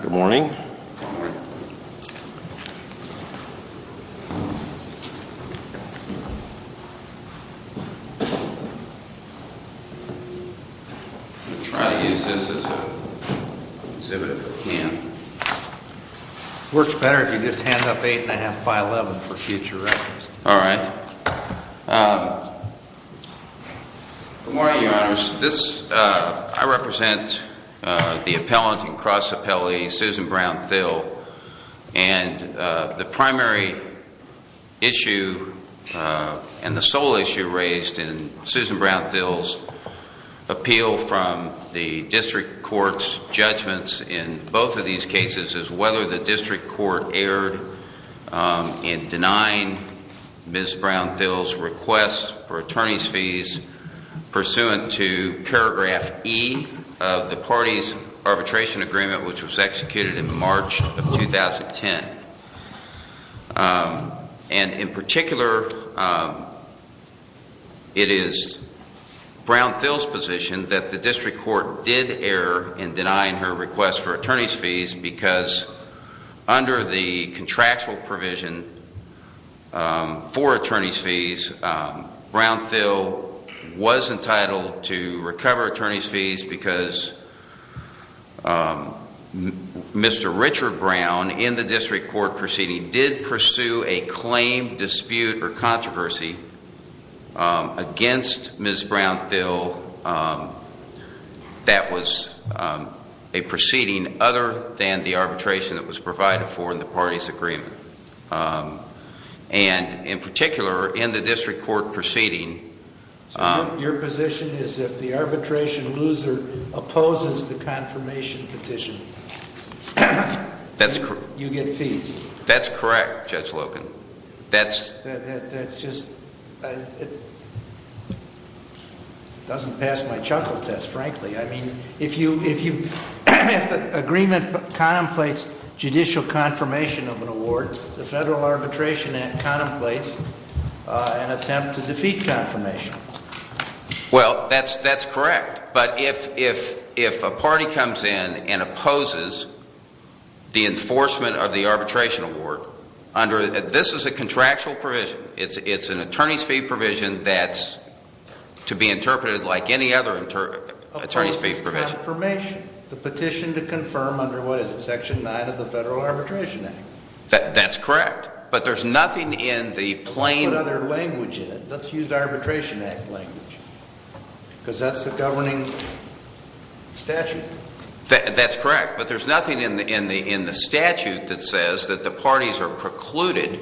Good morning. I'm going to try to use this as an exhibit if I can. Works better if you just hand up 8 and a half by 11 for future records. All right. Good morning, Your Honors. I represent the appellant in cross appellate, Susan Brown-Thill. And the primary issue and the sole issue raised in Susan Brown-Thill's appeal from the district court's judgments in both of these cases is whether the district court erred in denying Ms. Brown-Thill's request for attorney's fees pursuant to paragraph E of the party's arbitration agreement which was executed in March of 2010. And in particular, it is Brown-Thill's position that the district court did err in denying her request for attorney's fees because under the contractual provision for attorney's fees, Brown-Thill was entitled to recover attorney's fees because Mr. Richard Brown in the district court proceeding did pursue a claim dispute or controversy against Ms. Brown-Thill that was a proceeding other than the arbitration that was provided for in the party's agreement. And in particular, in the district court proceeding- So your position is if the arbitration loser opposes the confirmation petition, you get fees? That's correct, Judge Loken. That just doesn't pass my chuckle test, frankly. I mean, if the agreement contemplates judicial confirmation of an award, the Federal Arbitration Act contemplates an attempt to defeat confirmation. Well, that's correct. But if a party comes in and opposes the enforcement of the arbitration award under- This is a contractual provision. It's an attorney's fee provision that's to be interpreted like any other attorney's fee provision. Of course, it's confirmation. The petition to confirm under, what is it, Section 9 of the Federal Arbitration Act. That's correct. But there's nothing in the plain- Let's put other language in it. Let's use Arbitration Act language, because that's the governing statute. That's correct. But there's nothing in the statute that says that the parties are precluded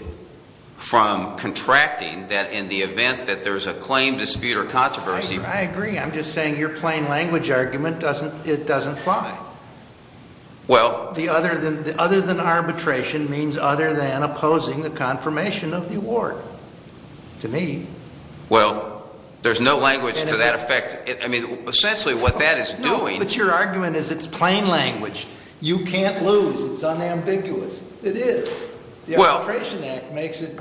from contracting in the event that there's a claim, dispute, or controversy. I agree. I'm just saying your plain language argument doesn't fly. Well- The other than arbitration means other than opposing the confirmation of the award. To me. Well, there's no language to that effect. I mean, essentially what that is doing- No, but your argument is it's plain language. You can't lose. It's unambiguous. It is. The Arbitration Act makes it,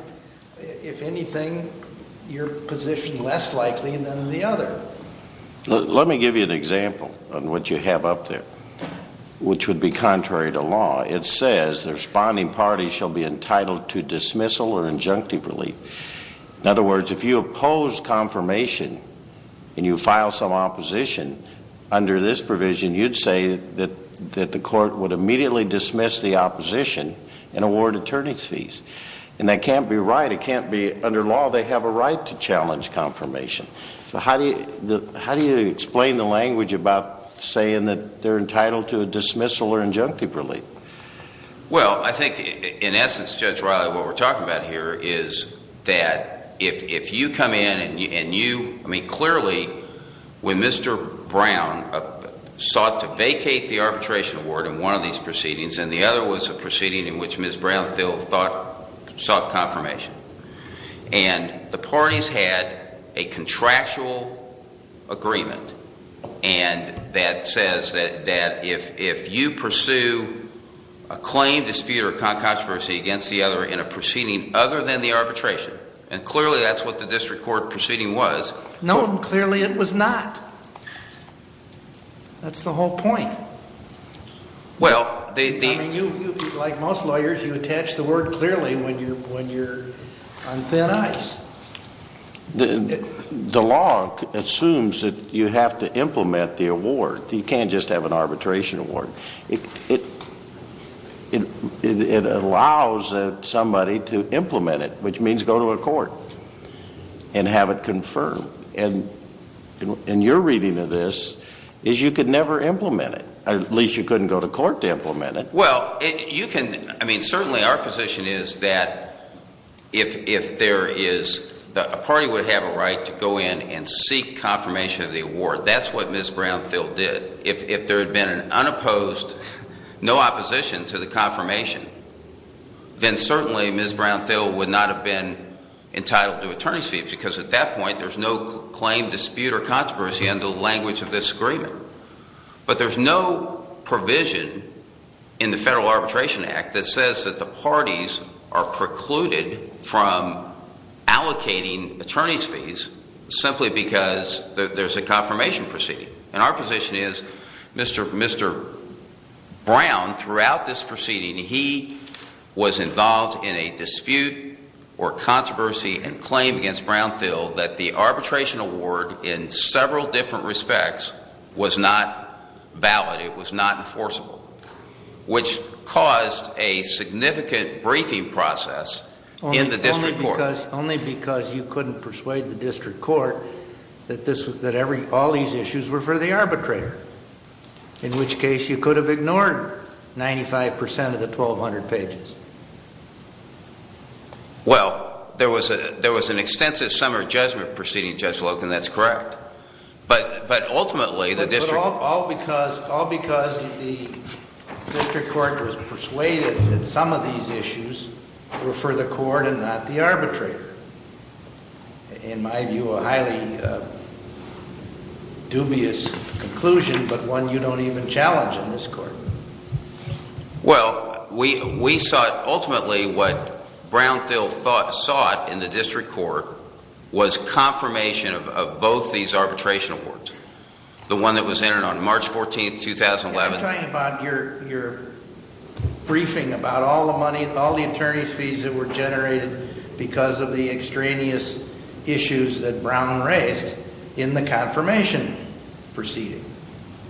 if anything, your position less likely than the other. Let me give you an example on what you have up there, which would be contrary to law. It says the responding party shall be entitled to dismissal or injunctive relief. In other words, if you oppose confirmation and you file some opposition under this provision, you'd say that the court would immediately dismiss the opposition and award attorney's fees. And that can't be right. It can't be under law. They have a right to challenge confirmation. How do you explain the language about saying that they're entitled to a dismissal or injunctive relief? Well, I think in essence, Judge Riley, what we're talking about here is that if you come in and you- I mean, clearly when Mr. Brown sought to vacate the arbitration award in one of these proceedings and the other was a proceeding in which Ms. Brown still sought confirmation. And the parties had a contractual agreement. And that says that if you pursue a claim, dispute, or controversy against the other in a proceeding other than the arbitration, and clearly that's what the district court proceeding was- No, clearly it was not. That's the whole point. Well, they- I mean, like most lawyers, you attach the word clearly when you're on thin ice. The law assumes that you have to implement the award. You can't just have an arbitration award. It allows somebody to implement it, which means go to a court and have it confirmed. And your reading of this is you could never implement it. At least you couldn't go to court to implement it. Well, you can- I mean, certainly our position is that if there is- a party would have a right to go in and seek confirmation of the award. That's what Ms. Brown-Thill did. If there had been an unopposed, no opposition to the confirmation, then certainly Ms. Brown-Thill would not have been entitled to attorney's fees. Because at that point, there's no claim, dispute, or controversy under the language of this agreement. But there's no provision in the Federal Arbitration Act that says that the parties are precluded from allocating attorney's fees simply because there's a confirmation proceeding. And our position is, Mr. Brown, throughout this proceeding, he was involved in a dispute or controversy and claim against Brown-Thill that the arbitration award in several different respects was not valid. It was not enforceable, which caused a significant briefing process in the district court. Only because you couldn't persuade the district court that all these issues were for the arbitrator, in which case you could have ignored 95% of the 1,200 pages. Well, there was an extensive summary judgment proceeding, Judge Loken. That's correct. But ultimately, the district- In my view, a highly dubious conclusion, but one you don't even challenge in this court. Well, we sought ultimately what Brown-Thill sought in the district court was confirmation of both these arbitration awards. The one that was entered on March 14, 2011. I'm talking about your briefing about all the money, all the attorney's fees that were generated because of the extraneous issues that Brown raised in the confirmation proceeding.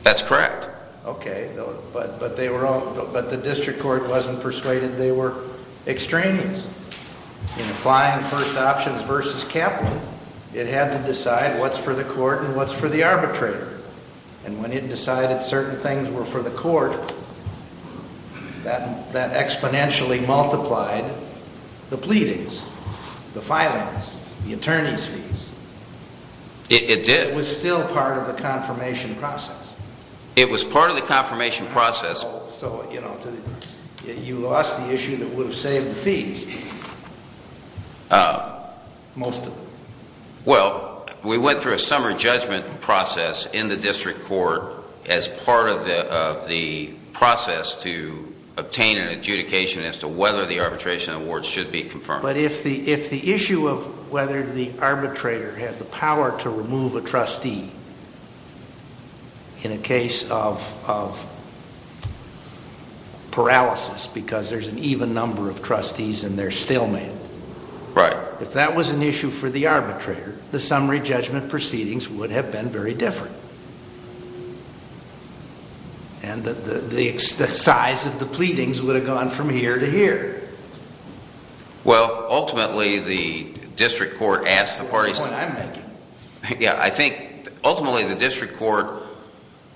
That's correct. Okay. But the district court wasn't persuaded they were extraneous. In applying first options versus Kaplan, it had to decide what's for the court and what's for the arbitrator. And when it decided certain things were for the court, that exponentially multiplied the pleadings, the filings, the attorney's fees. It did. It was still part of the confirmation process. It was part of the confirmation process. So, you know, you lost the issue that would have saved the fees, most of them. Well, we went through a summer judgment process in the district court as part of the process to obtain an adjudication as to whether the arbitration awards should be confirmed. But if the issue of whether the arbitrator had the power to remove a trustee in a case of paralysis because there's an even number of trustees and they're stillmen. Right. If that was an issue for the arbitrator, the summary judgment proceedings would have been very different. And the size of the pleadings would have gone from here to here. Well, ultimately, the district court asked the parties. That's the point I'm making. Yeah, I think ultimately the district court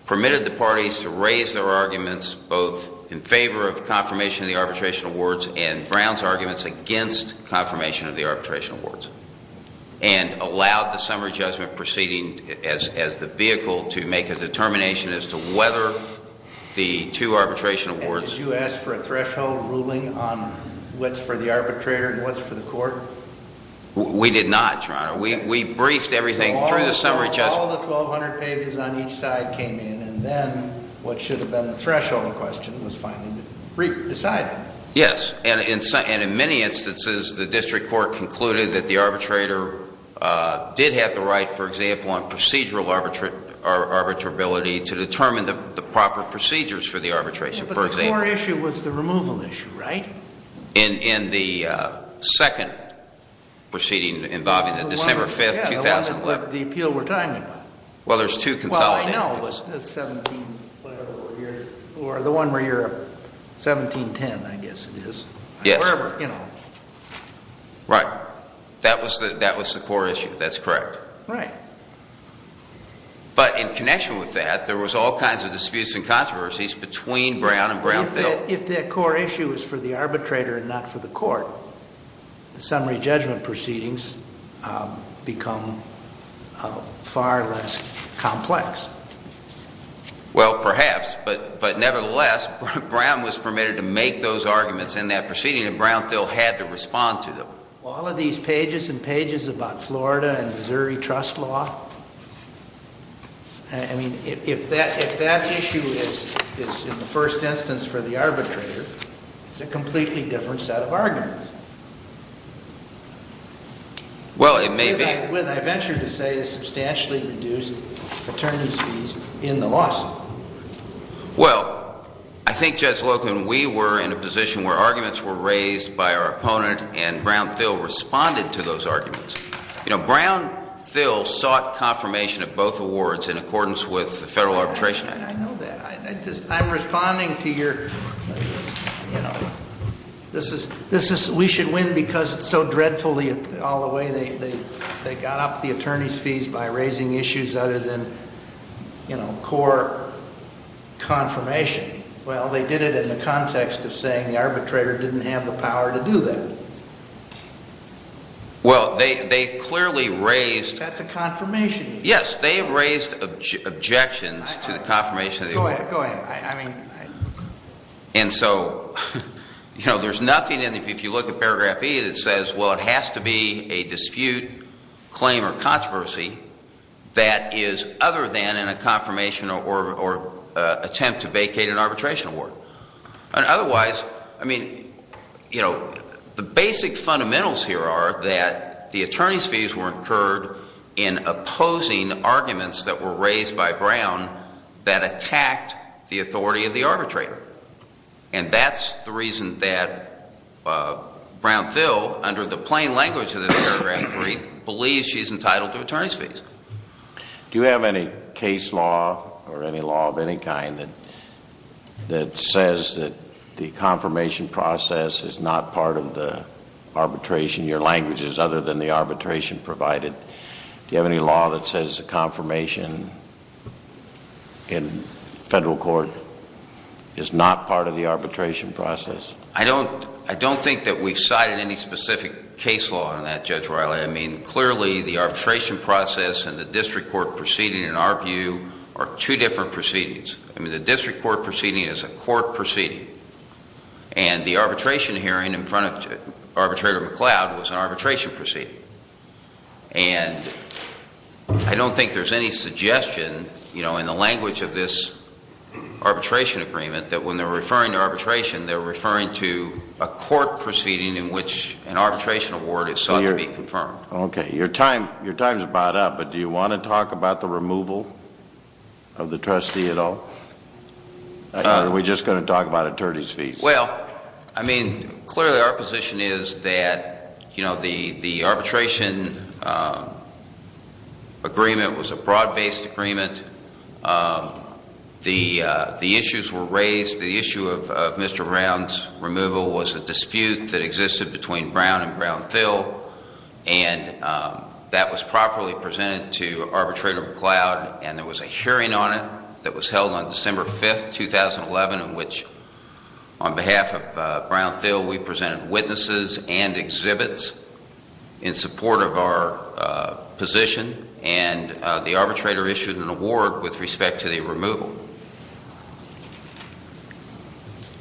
permitted the parties to raise their arguments both in favor of confirmation of the arbitration awards and Brown's arguments against confirmation of the arbitration awards. And allowed the summary judgment proceeding as the vehicle to make a determination as to whether the two arbitration awards. And did you ask for a threshold ruling on what's for the arbitrator and what's for the court? We did not, Your Honor. We briefed everything through the summary judgment. All the 1,200 pages on each side came in. And then what should have been the threshold question was finally decided. Yes. And in many instances, the district court concluded that the arbitrator did have the right, for example, on procedural arbitrability to determine the proper procedures for the arbitration. But the core issue was the removal issue, right? In the second proceeding involving the December 5, 2011. Yeah, the one that the appeal we're talking about. Well, there's two consolidated issues. Well, I know. But the one where you're 1710, I guess it is. Yes. Wherever, you know. Right. That was the core issue. That's correct. Right. But in connection with that, there was all kinds of disputes and controversies between Brown and Brownville. Well, if that core issue is for the arbitrator and not for the court, the summary judgment proceedings become far less complex. Well, perhaps. But nevertheless, Brown was permitted to make those arguments in that proceeding, and Brownville had to respond to them. Well, all of these pages and pages about Florida and Missouri trust law, I mean, if that issue is in the first instance for the arbitrator, it's a completely different set of arguments. Well, it may be. What I venture to say is substantially reduced attorneys fees in the lawsuit. Well, I think, Judge Loken, we were in a position where arguments were raised by our opponent, and Brownville responded to those arguments. You know, Brownville sought confirmation of both awards in accordance with the Federal Arbitration Act. I know that. I'm responding to your, you know, this is, we should win because it's so dreadfully all the way they got up the attorneys fees by raising issues other than, you know, core confirmation. Well, they did it in the context of saying the arbitrator didn't have the power to do that. Well, they clearly raised- That's a confirmation issue. Yes, they raised objections to the confirmation of the award. Go ahead. I mean- And so, you know, there's nothing in, if you look at paragraph E that says, well, it has to be a dispute, claim, or controversy that is other than in a confirmation or attempt to vacate an arbitration award. Otherwise, I mean, you know, the basic fundamentals here are that the attorneys fees were incurred in opposing arguments that were raised by Brown that attacked the authority of the arbitrator. And that's the reason that Brownville, under the plain language of this paragraph 3, believes she's entitled to attorneys fees. Do you have any case law or any law of any kind that says that the confirmation process is not part of the arbitration, your language is other than the arbitration provided? Do you have any law that says the confirmation in federal court is not part of the arbitration process? I don't think that we've cited any specific case law on that, Judge Riley. I mean, clearly, the arbitration process and the district court proceeding, in our view, are two different proceedings. I mean, the district court proceeding is a court proceeding. And the arbitration hearing in front of Arbitrator McCloud was an arbitration proceeding. And I don't think there's any suggestion, you know, in the language of this arbitration agreement that when they're referring to arbitration, they're referring to a court proceeding in which an arbitration award is sought to be confirmed. Okay, your time is about up, but do you want to talk about the removal of the trustee at all? Or are we just going to talk about attorneys fees? Well, I mean, clearly, our position is that, you know, the arbitration agreement was a broad-based agreement. The issues were raised. The issue of Mr. Brown's removal was a dispute that existed between Brown and Brown-Thill. And that was properly presented to Arbitrator McCloud. And there was a hearing on it that was held on December 5, 2011, in which, on behalf of Brown-Thill, we presented witnesses and exhibits in support of our position. And the arbitrator issued an award with respect to the removal.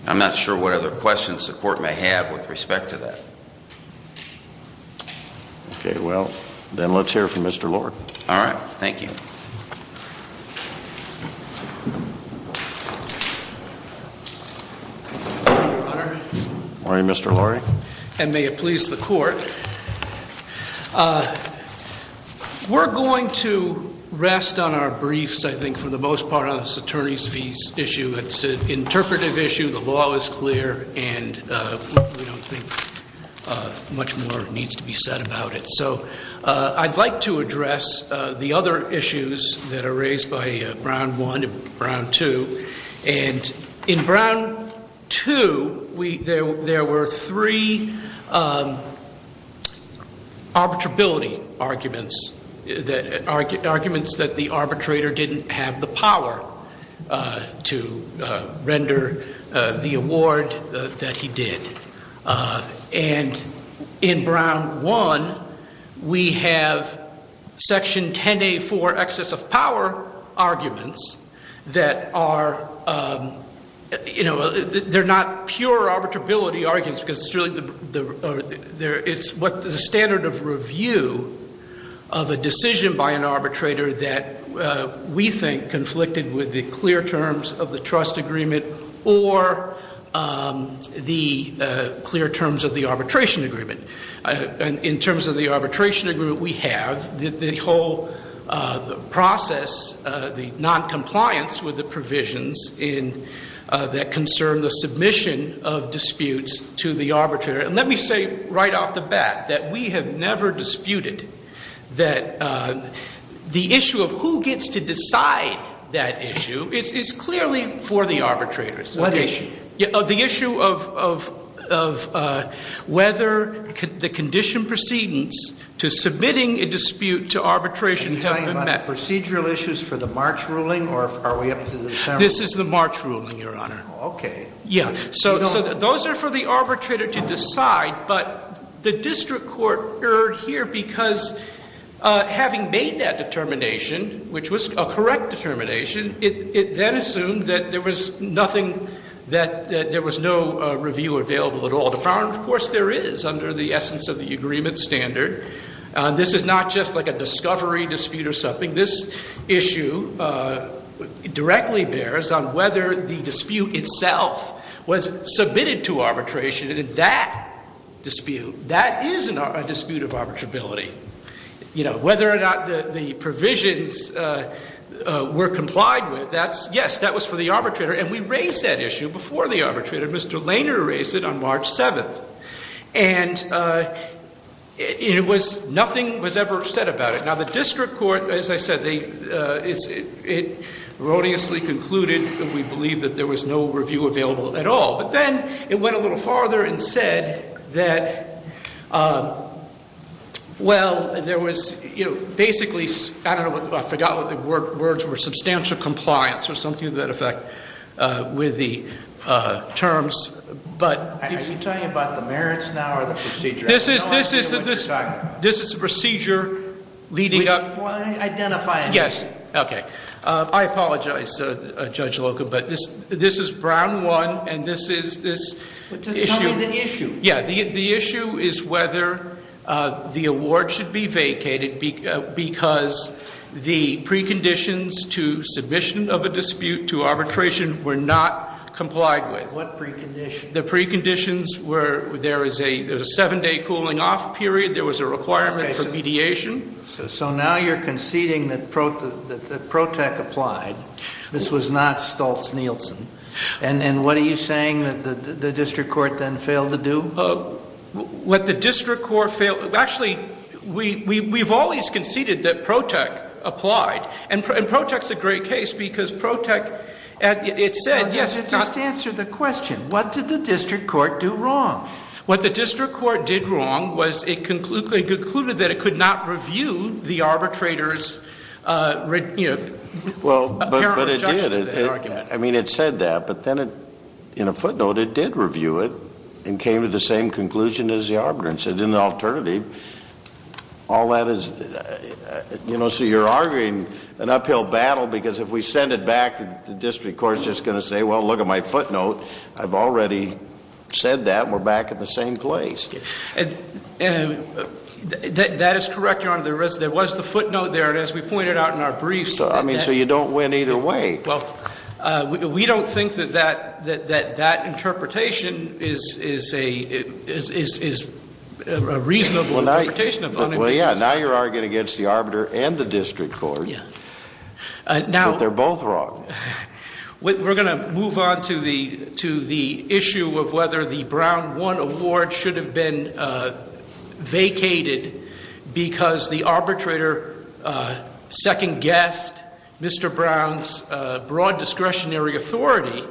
I'm not sure what other questions the court may have with respect to that. Okay, well, then let's hear from Mr. Lorre. All right. Thank you. Good morning, Your Honor. Good morning, Mr. Lorre. And may it please the court, we're going to rest on our briefs, I think, for the most part on this attorneys fees issue. It's an interpretive issue. The law is clear. And we don't think much more needs to be said about it. So I'd like to address the other issues that are raised by Brown 1 and Brown 2. And in Brown 2, there were three arbitrability arguments, arguments that the arbitrator didn't have the power to render the award that he did. And in Brown 1, we have Section 10A4 excess of power arguments that are, you know, they're not pure arbitrability arguments. It's what the standard of review of a decision by an arbitrator that we think conflicted with the clear terms of the trust agreement or the clear terms of the arbitration agreement. In terms of the arbitration agreement, we have the whole process, the noncompliance with the provisions that concern the submission of disputes to the arbitrator. And let me say right off the bat that we have never disputed that the issue of who gets to decide that issue is clearly for the arbitrators. What issue? The issue of whether the condition precedence to submitting a dispute to arbitration has been met. Are you talking about the procedural issues for the March ruling or are we up to December? This is the March ruling, Your Honor. Okay. Yeah, so those are for the arbitrator to decide. But the district court erred here because having made that determination, which was a correct determination, it then assumed that there was nothing that there was no review available at all. Of course, there is under the essence of the agreement standard. This is not just like a discovery dispute or something. This issue directly bears on whether the dispute itself was submitted to arbitration. And in that dispute, that is a dispute of arbitrability. Whether or not the provisions were complied with, yes, that was for the arbitrator. And we raised that issue before the arbitrator. Mr. Lehner raised it on March 7th. And nothing was ever said about it. Now, the district court, as I said, it erroneously concluded that we believe that there was no review available at all. But then it went a little farther and said that, well, there was basically, I don't know, I forgot what the words were, substantial compliance or something to that effect with the terms. Are you talking about the merits now or the procedure? This is the procedure leading up- Identify it. Yes. Okay. I apologize, Judge Loca, but this is Brown 1 and this is- Just tell me the issue. Yeah. The issue is whether the award should be vacated because the preconditions to submission of a dispute to arbitration were not complied with. What preconditions? The preconditions were there is a seven-day cooling-off period. There was a requirement for mediation. So now you're conceding that PROTEC applied. This was not Stoltz-Nielsen. And what are you saying that the district court then failed to do? What the district court failed-actually, we've always conceded that PROTEC applied. And PROTEC's a great case because PROTEC, it said- Just answer the question. What did the district court do wrong? What the district court did wrong was it concluded that it could not review the arbitrator's apparent rejection of the argument. Well, but it did. I mean, it said that. But then, in a footnote, it did review it and came to the same conclusion as the arbitrator and said, in the alternative, all that is- You know, so you're arguing an uphill battle because if we send it back, the district court is just going to say, well, look at my footnote. I've already said that. We're back at the same place. And that is correct, Your Honor. There was the footnote there. And as we pointed out in our briefs- I mean, so you don't win either way. Well, we don't think that that interpretation is a reasonable interpretation of- Well, yeah, now you're arguing against the arbiter and the district court. Yeah. But they're both wrong. We're going to move on to the issue of whether the Brown 1 award should have been vacated because the arbitrator second-guessed Mr. Brown's broad discretionary authority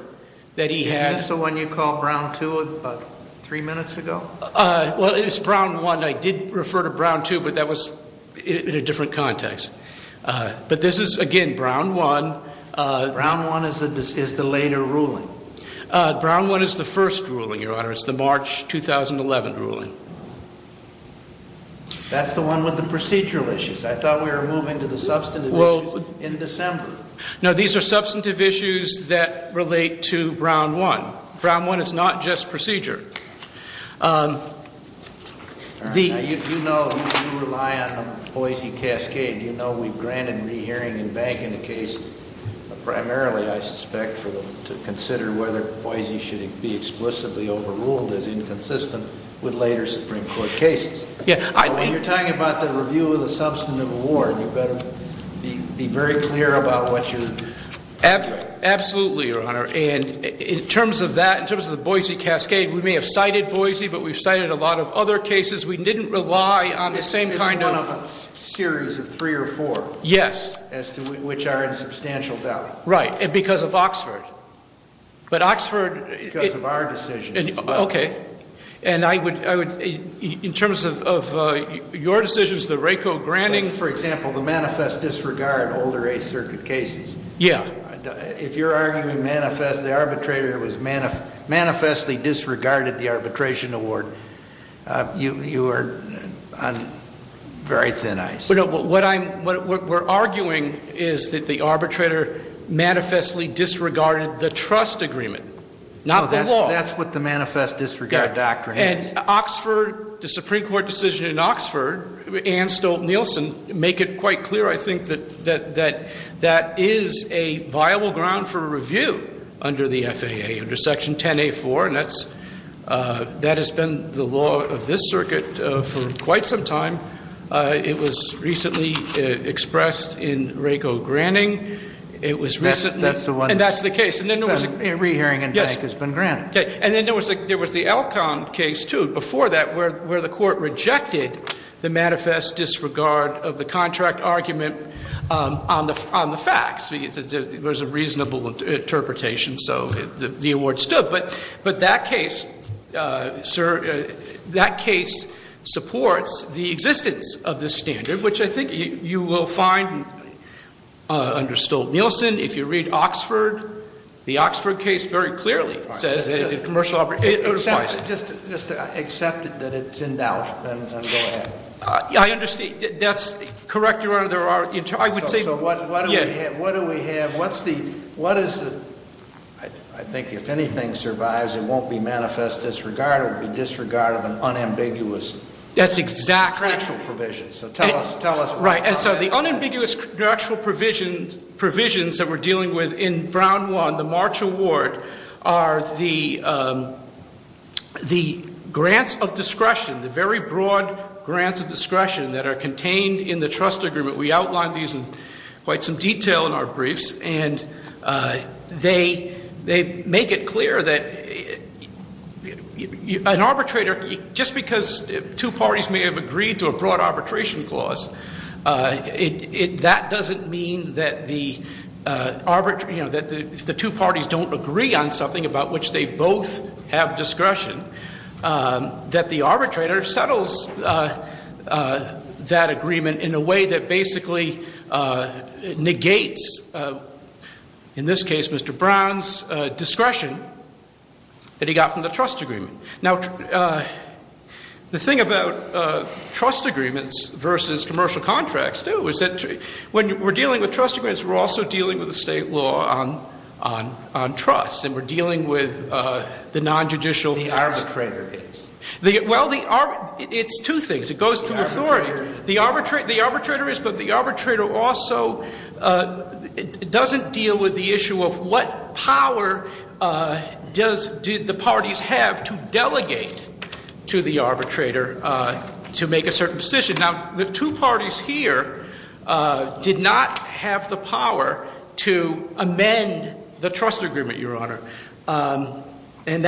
that he had- Isn't this the one you called Brown 2 about three minutes ago? Well, it's Brown 1. I did refer to Brown 2, but that was in a different context. But this is, again, Brown 1. Brown 1 is the later ruling. Brown 1 is the first ruling, Your Honor. It's the March 2011 ruling. That's the one with the procedural issues. I thought we were moving to the substantive issues in December. No, these are substantive issues that relate to Brown 1. Brown 1 is not just procedure. You know we rely on the Boise cascade. You know we've granted re-hearing and bank in a case primarily, I suspect, to consider whether Boise should be explicitly overruled as inconsistent with later Supreme Court cases. When you're talking about the review of the substantive award, you better be very clear about what you're- Absolutely, Your Honor. And in terms of that, in terms of the Boise cascade, we may have cited Boise, but we've cited a lot of other cases. We didn't rely on the same kind of- It's one of a series of three or four. Yes. As to which are in substantial doubt. Right, and because of Oxford. But Oxford- Because of our decisions as well. Okay. And I would- in terms of your decisions, the RACO granting- For example, the manifest disregard older Eighth Circuit cases. Yeah. If you're arguing manifest- the arbitrator was manifestly disregarded the arbitration award, you are on very thin ice. What I'm- what we're arguing is that the arbitrator manifestly disregarded the trust agreement, not the law. That's what the manifest disregard doctrine is. The Supreme Court decision in Oxford and Stolt-Nielsen make it quite clear, I think, that that is a viable ground for review under the FAA, under Section 10A4. And that's- that has been the law of this circuit for quite some time. It was recently expressed in RACO granting. It was recently- That's the one- And that's the case. And then there was- A re-hearing in bank has been granted. Okay. And then there was the Elkhorn case, too, before that, where the court rejected the manifest disregard of the contract argument on the facts. There was a reasonable interpretation, so the award stood. But that case, sir, that case supports the existence of this standard, which I think you will find under Stolt-Nielsen. If you read Oxford, the Oxford case very clearly says- All right. Commercial arbitration applies. Just to accept that it's in doubt, then go ahead. I understand. That's correct, Your Honor. There are- I would say- So what do we have? Yes. What do we have? What's the- what is the- I think if anything survives, it won't be manifest disregard. It would be disregard of an unambiguous- That's exactly- Contractual provision. So tell us- Right. And so the unambiguous contractual provisions that we're dealing with in Brown 1, the March award, are the grants of discretion, the very broad grants of discretion that are contained in the trust agreement. We outlined these in quite some detail in our briefs. And they make it clear that an arbitrator, just because two parties may have agreed to a broad arbitration clause, that doesn't mean that the two parties don't agree on something about which they both have discretion, that the arbitrator settles that agreement in a way that basically negates, in this case, Mr. Brown's discretion that he got from the trust agreement. Now, the thing about trust agreements versus commercial contracts, too, is that when we're dealing with trust agreements, we're also dealing with the state law on trust. And we're dealing with the nonjudicial- The arbitrator is. Well, it's two things. It goes to authority. The arbitrator is, but the arbitrator also doesn't deal with the issue of what power did the parties have to delegate to the arbitrator to make a certain decision. Now, the two parties here did not have the power to amend the trust agreement, Your Honor. And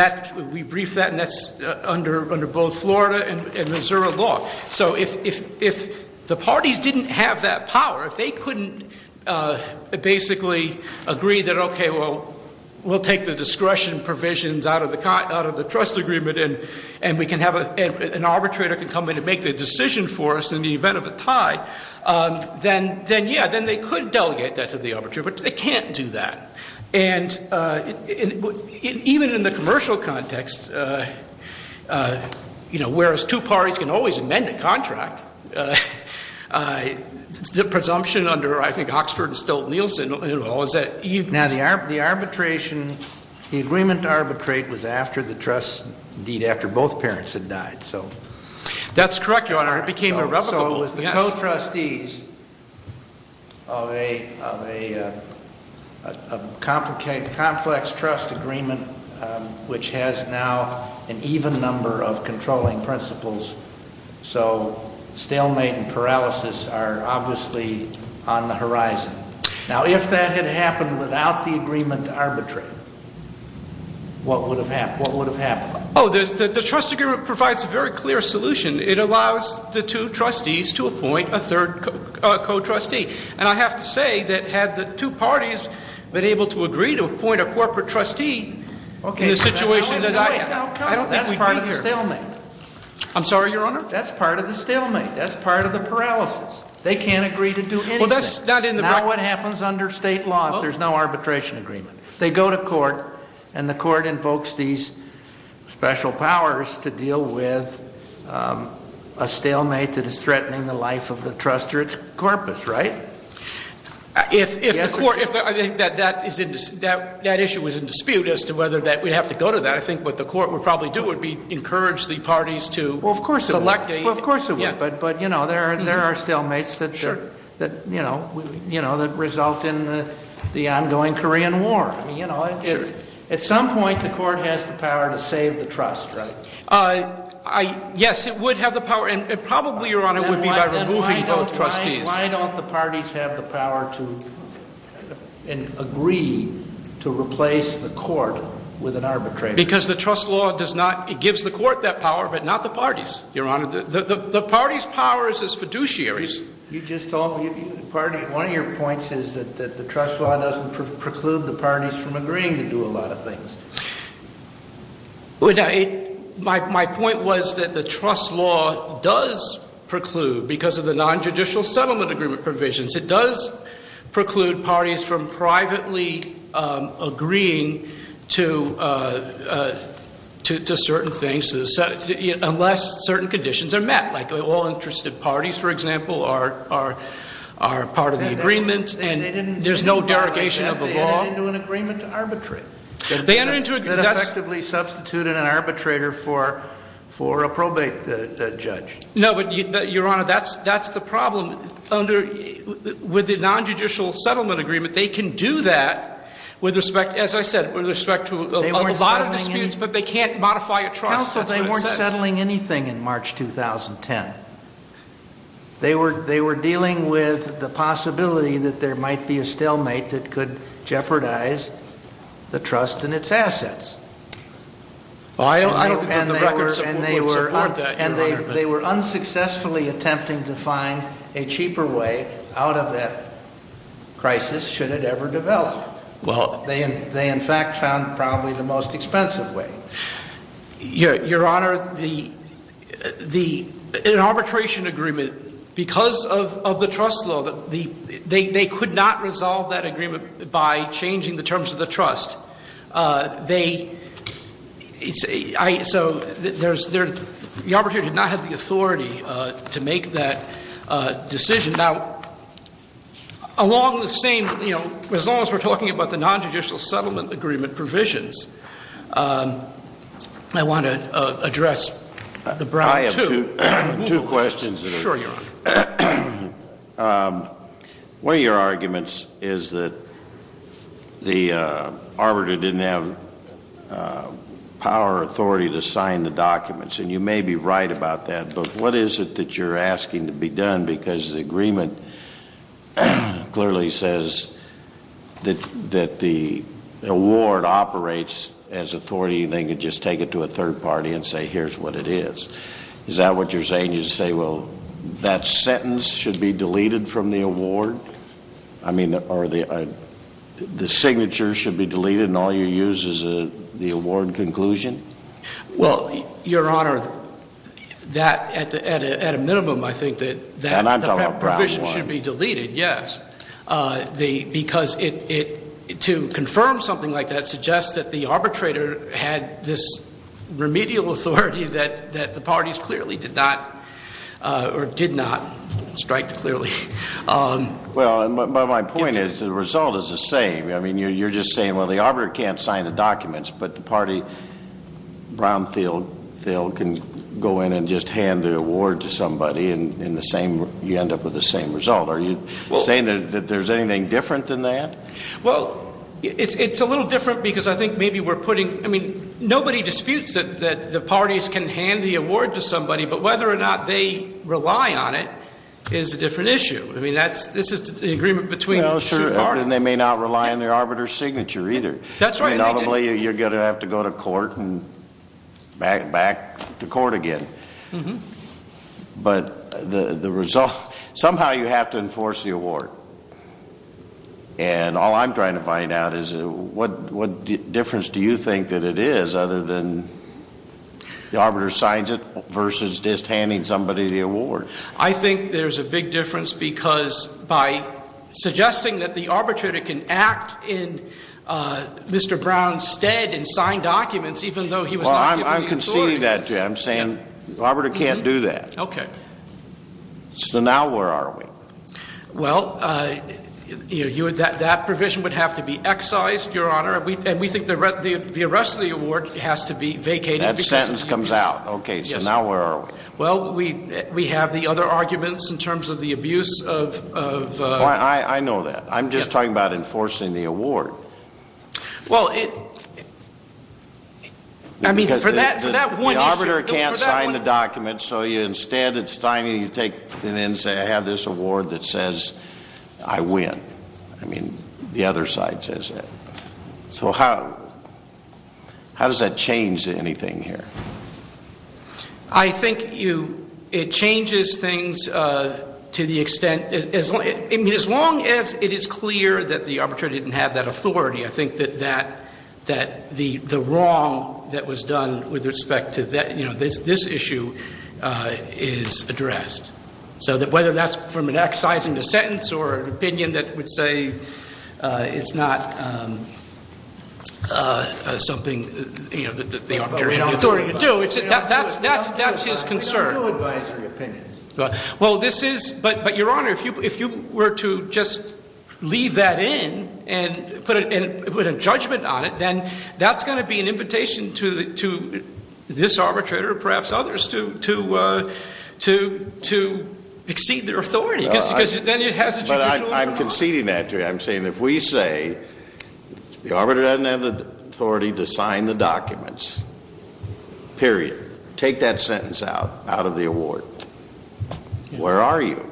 we briefed that, and that's under both Florida and Missouri law. So if the parties didn't have that power, if they couldn't basically agree that, well, we'll take the discretion provisions out of the trust agreement and we can have an arbitrator come in and make the decision for us in the event of a tie, then, yeah, then they could delegate that to the arbitrator, but they can't do that. And even in the commercial context, you know, whereas two parties can always amend a contract, the presumption under, I think, Oxford and Stolt-Nielsen, was that- Now, the arbitration, the agreement to arbitrate was after the trust, indeed, after both parents had died, so- That's correct, Your Honor. It became irrevocable, yes. So it was the co-trustees of a complex trust agreement, which has now an even number of controlling principles. So stalemate and paralysis are obviously on the horizon. Now, if that had happened without the agreement to arbitrate, what would have happened? Oh, the trust agreement provides a very clear solution. It allows the two trustees to appoint a third co-trustee. And I have to say that had the two parties been able to agree to appoint a corporate trustee in the situation that I- Okay, but that's part of the stalemate. I'm sorry, Your Honor? That's part of the stalemate. That's part of the paralysis. They can't agree to do anything. Well, that's not in the- Not what happens under state law if there's no arbitration agreement. They go to court, and the court invokes these special powers to deal with a stalemate that is threatening the life of the trust or its corpus, right? If the court- Yes, Your Honor. Well, of course it would. But there are stalemates that result in the ongoing Korean War. At some point, the court has the power to save the trust, right? Yes, it would have the power. And probably, Your Honor, it would be by removing those trustees. Then why don't the parties have the power to agree to replace the court with an arbitrator? Because the trust law does not- It gives the court that power, but not the parties, Your Honor. The parties' power is as fiduciaries. You just told me- One of your points is that the trust law doesn't preclude the parties from agreeing to do a lot of things. My point was that the trust law does preclude because of the nonjudicial settlement agreement provisions. It does preclude parties from privately agreeing to certain things unless certain conditions are met. Like all interested parties, for example, are part of the agreement and there's no derogation of the law. They didn't enter into an agreement to arbitrate. They entered into a- That effectively substituted an arbitrator for a probate judge. No, but Your Honor, that's the problem. With the nonjudicial settlement agreement, they can do that with respect, as I said, with respect to a lot of disputes, but they can't modify a trust. That's what it says. Counsel, they weren't settling anything in March 2010. They were dealing with the possibility that there might be a stalemate that could jeopardize the trust and its assets. Well, I don't think that the record would support that, Your Honor. They were unsuccessfully attempting to find a cheaper way out of that crisis should it ever develop. They, in fact, found probably the most expensive way. Your Honor, the arbitration agreement, because of the trust law, they could not resolve that agreement by changing the terms of the trust. So the arbitrator did not have the authority to make that decision. Now, along the same, you know, as long as we're talking about the nonjudicial settlement agreement provisions, I want to address the Brown 2. I have two questions. Sure, Your Honor. One of your arguments is that the arbitrator didn't have power or authority to sign the documents. And you may be right about that, but what is it that you're asking to be done? Because the agreement clearly says that the award operates as authority. They could just take it to a third party and say, here's what it is. Is that what you're saying? You say, well, that sentence should be deleted from the award? I mean, or the signature should be deleted and all you use is the award conclusion? Well, Your Honor, that, at a minimum, I think that that provision should be deleted, yes. Because to confirm something like that suggests that the arbitrator had this remedial authority that the parties clearly did not or did not strike clearly. Well, my point is the result is the same. I mean, you're just saying, well, the arbitrator can't sign the documents, but the party brownfield can go in and just hand the award to somebody and you end up with the same result. Are you saying that there's anything different than that? Well, it's a little different because I think maybe we're putting, I mean, nobody disputes that the parties can hand the award to somebody, but whether or not they rely on it is a different issue. I mean, this is the agreement between two parties. Well, sure, and they may not rely on their arbitrator's signature either. That's right. And ultimately you're going to have to go to court and back to court again. Mm-hmm. But the result, somehow you have to enforce the award. And all I'm trying to find out is what difference do you think that it is other than the arbiter signs it versus just handing somebody the award? I think there's a big difference because by suggesting that the arbitrator can act in Mr. Brown's stead and sign documents, I'm saying the arbiter can't do that. Okay. So now where are we? Well, that provision would have to be excised, Your Honor, and we think the arrest of the award has to be vacated. That sentence comes out. Okay, so now where are we? Well, we have the other arguments in terms of the abuse of the ‑‑ I know that. I'm just talking about enforcing the award. Well, I mean, for that one issue ‑‑ Because the arbiter can't sign the documents, so instead of signing, you take it in and say I have this award that says I win. I mean, the other side says that. So how does that change anything here? I think it changes things to the extent ‑‑ I mean, as long as it is clear that the arbitrator didn't have that authority, I think that the wrong that was done with respect to this issue is addressed. So whether that's from an excising the sentence or an opinion that would say it's not something that the arbitrator has the authority to do, that's his concern. I don't know advisory opinions. Well, this is ‑‑ but, Your Honor, if you were to just leave that in and put a judgment on it, then that's going to be an invitation to this arbitrator or perhaps others to exceed their authority. Because then it has a judicial ‑‑ But I'm conceding that to you. I'm saying if we say the arbitrator doesn't have the authority to sign the documents, period, take that sentence out of the award, where are you?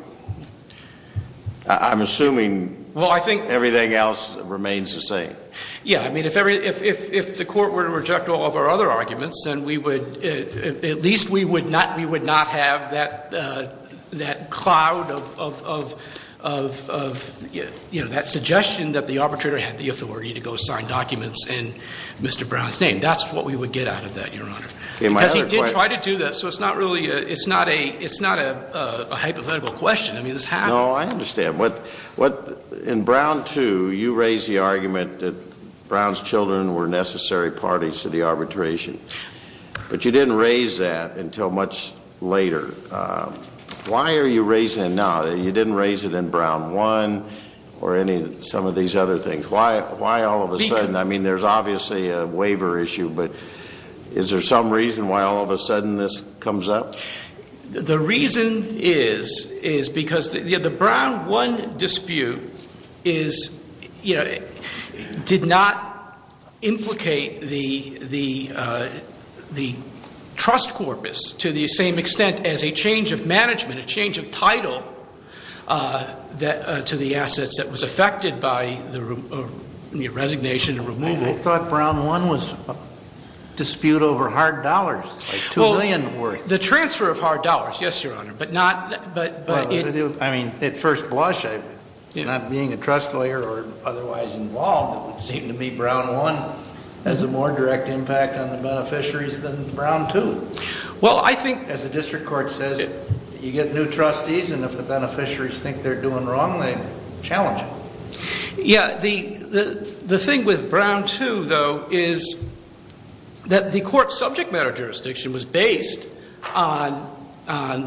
I'm assuming everything else remains the same. Yeah, I mean, if the court were to reject all of our other arguments, then we would ‑‑ at least we would not have that cloud of, you know, that suggestion that the arbitrator had the authority to go sign documents in Mr. Brown's name. That's what we would get out of that, Your Honor. Because he did try to do that, so it's not really ‑‑ it's not a hypothetical question. I mean, this happened. No, I understand. In Brown 2, you raised the argument that Brown's children were necessary parties to the arbitration. But you didn't raise that until much later. Why are you raising it now? You didn't raise it in Brown 1 or any ‑‑ some of these other things. Why all of a sudden? I mean, there's obviously a waiver issue, but is there some reason why all of a sudden this comes up? The reason is, is because the Brown 1 dispute is, you know, did not implicate the trust corpus to the same extent as a change of management, a change of title to the assets that was affected by the resignation and removal. I thought Brown 1 was a dispute over hard dollars, like $2 million worth. The transfer of hard dollars, yes, Your Honor, but not ‑‑ I mean, at first blush, not being a trust lawyer or otherwise involved, it would seem to me Brown 1 has a more direct impact on the beneficiaries than Brown 2. Well, I think ‑‑ As the district court says, you get new trustees, and if the beneficiaries think they're doing wrong, they challenge it. Yeah, the thing with Brown 2, though, is that the court's subject matter jurisdiction was based on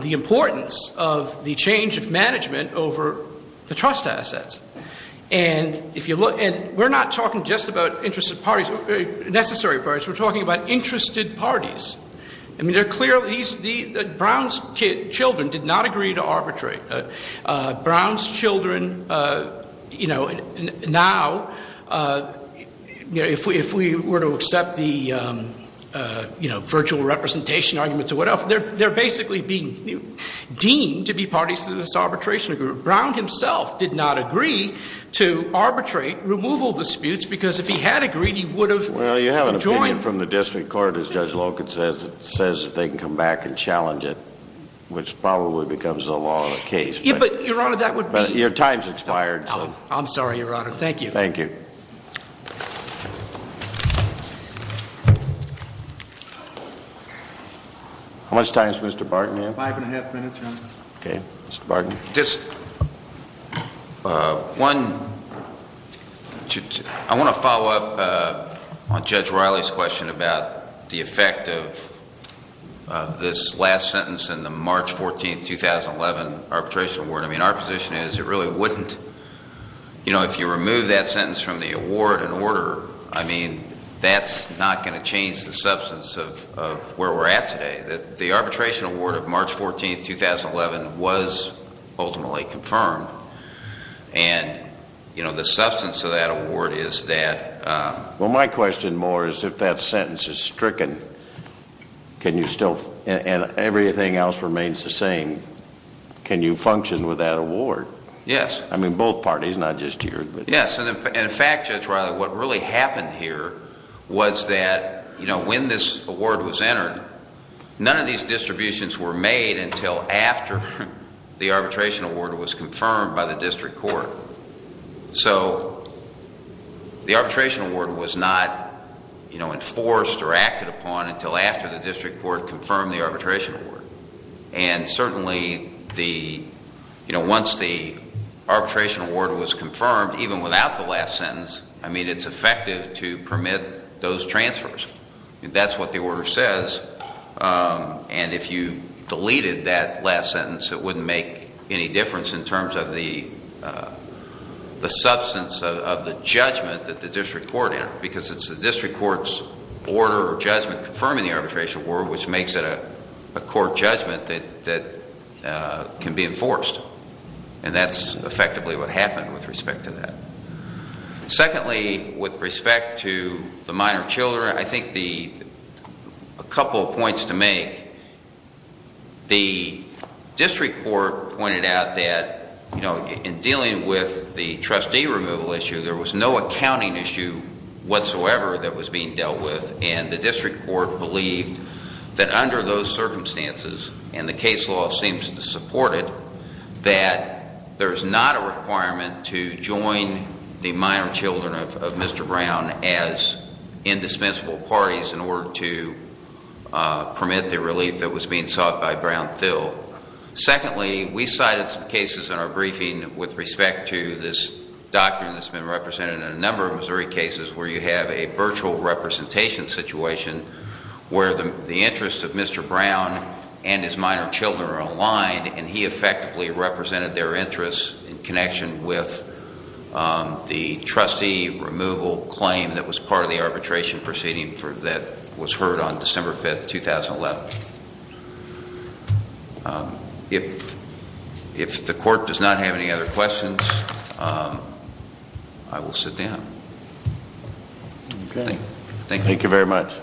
the importance of the change of management over the trust assets. And if you look ‑‑ and we're not talking just about interested parties, necessary parties, we're talking about interested parties. I mean, they're clearly ‑‑ Brown's children did not agree to arbitrate. Brown's children, you know, now, if we were to accept the, you know, virtual representation arguments or whatever, they're basically being deemed to be parties to this arbitration agreement. Brown himself did not agree to arbitrate removal disputes because if he had agreed, he would have joined ‑‑ Well, you have an opinion from the district court, as Judge Loken says. It says that they can come back and challenge it, which probably becomes the law of the case. But, Your Honor, that would be ‑‑ But your time's expired. I'm sorry, Your Honor. Thank you. Thank you. How much time is Mr. Barton here? Five and a half minutes, Your Honor. Okay. Mr. Barton? Just one ‑‑ I want to follow up on Judge Riley's question about the effect of this last sentence in the March 14, 2011 arbitration award. I mean, our position is it really wouldn't, you know, if you remove that sentence from the award in order, I mean, that's not going to change the substance of where we're at today. The arbitration award of March 14, 2011 was ultimately confirmed. And, you know, the substance of that award is that ‑‑ Well, my question more is if that sentence is stricken, can you still ‑‑ and everything else remains the same, can you function with that award? Yes. I mean, both parties, not just yours. Yes. And, in fact, Judge Riley, what really happened here was that, you know, when this award was entered, none of these distributions were made until after the arbitration award was confirmed by the district court. So the arbitration award was not, you know, enforced or acted upon until after the district court confirmed the arbitration award. And certainly the, you know, once the arbitration award was confirmed, even without the last sentence, I mean, it's effective to permit those transfers. That's what the order says. And if you deleted that last sentence, it wouldn't make any difference in terms of the substance of the judgment that the district court entered because it's the district court's order or judgment confirming the arbitration award which makes it a court judgment that can be enforced. And that's effectively what happened with respect to that. Secondly, with respect to the minor children, I think a couple of points to make. The district court pointed out that, you know, in dealing with the trustee removal issue, there was no accounting issue whatsoever that was being dealt with. And the district court believed that under those circumstances, and the case law seems to support it, that there's not a requirement to join the minor children of Mr. Brown as indispensable parties in order to permit the relief that was being sought by Brown-Thill. Secondly, we cited some cases in our briefing with respect to this doctrine that's been represented in a number of Missouri cases where you have a virtual representation situation where the interests of Mr. Brown and his minor children are aligned and he effectively represented their interests in connection with the trustee removal claim that was part of the arbitration proceeding that was heard on December 5, 2011. If the court does not have any other questions, I will sit down. Thank you. Thank you very much.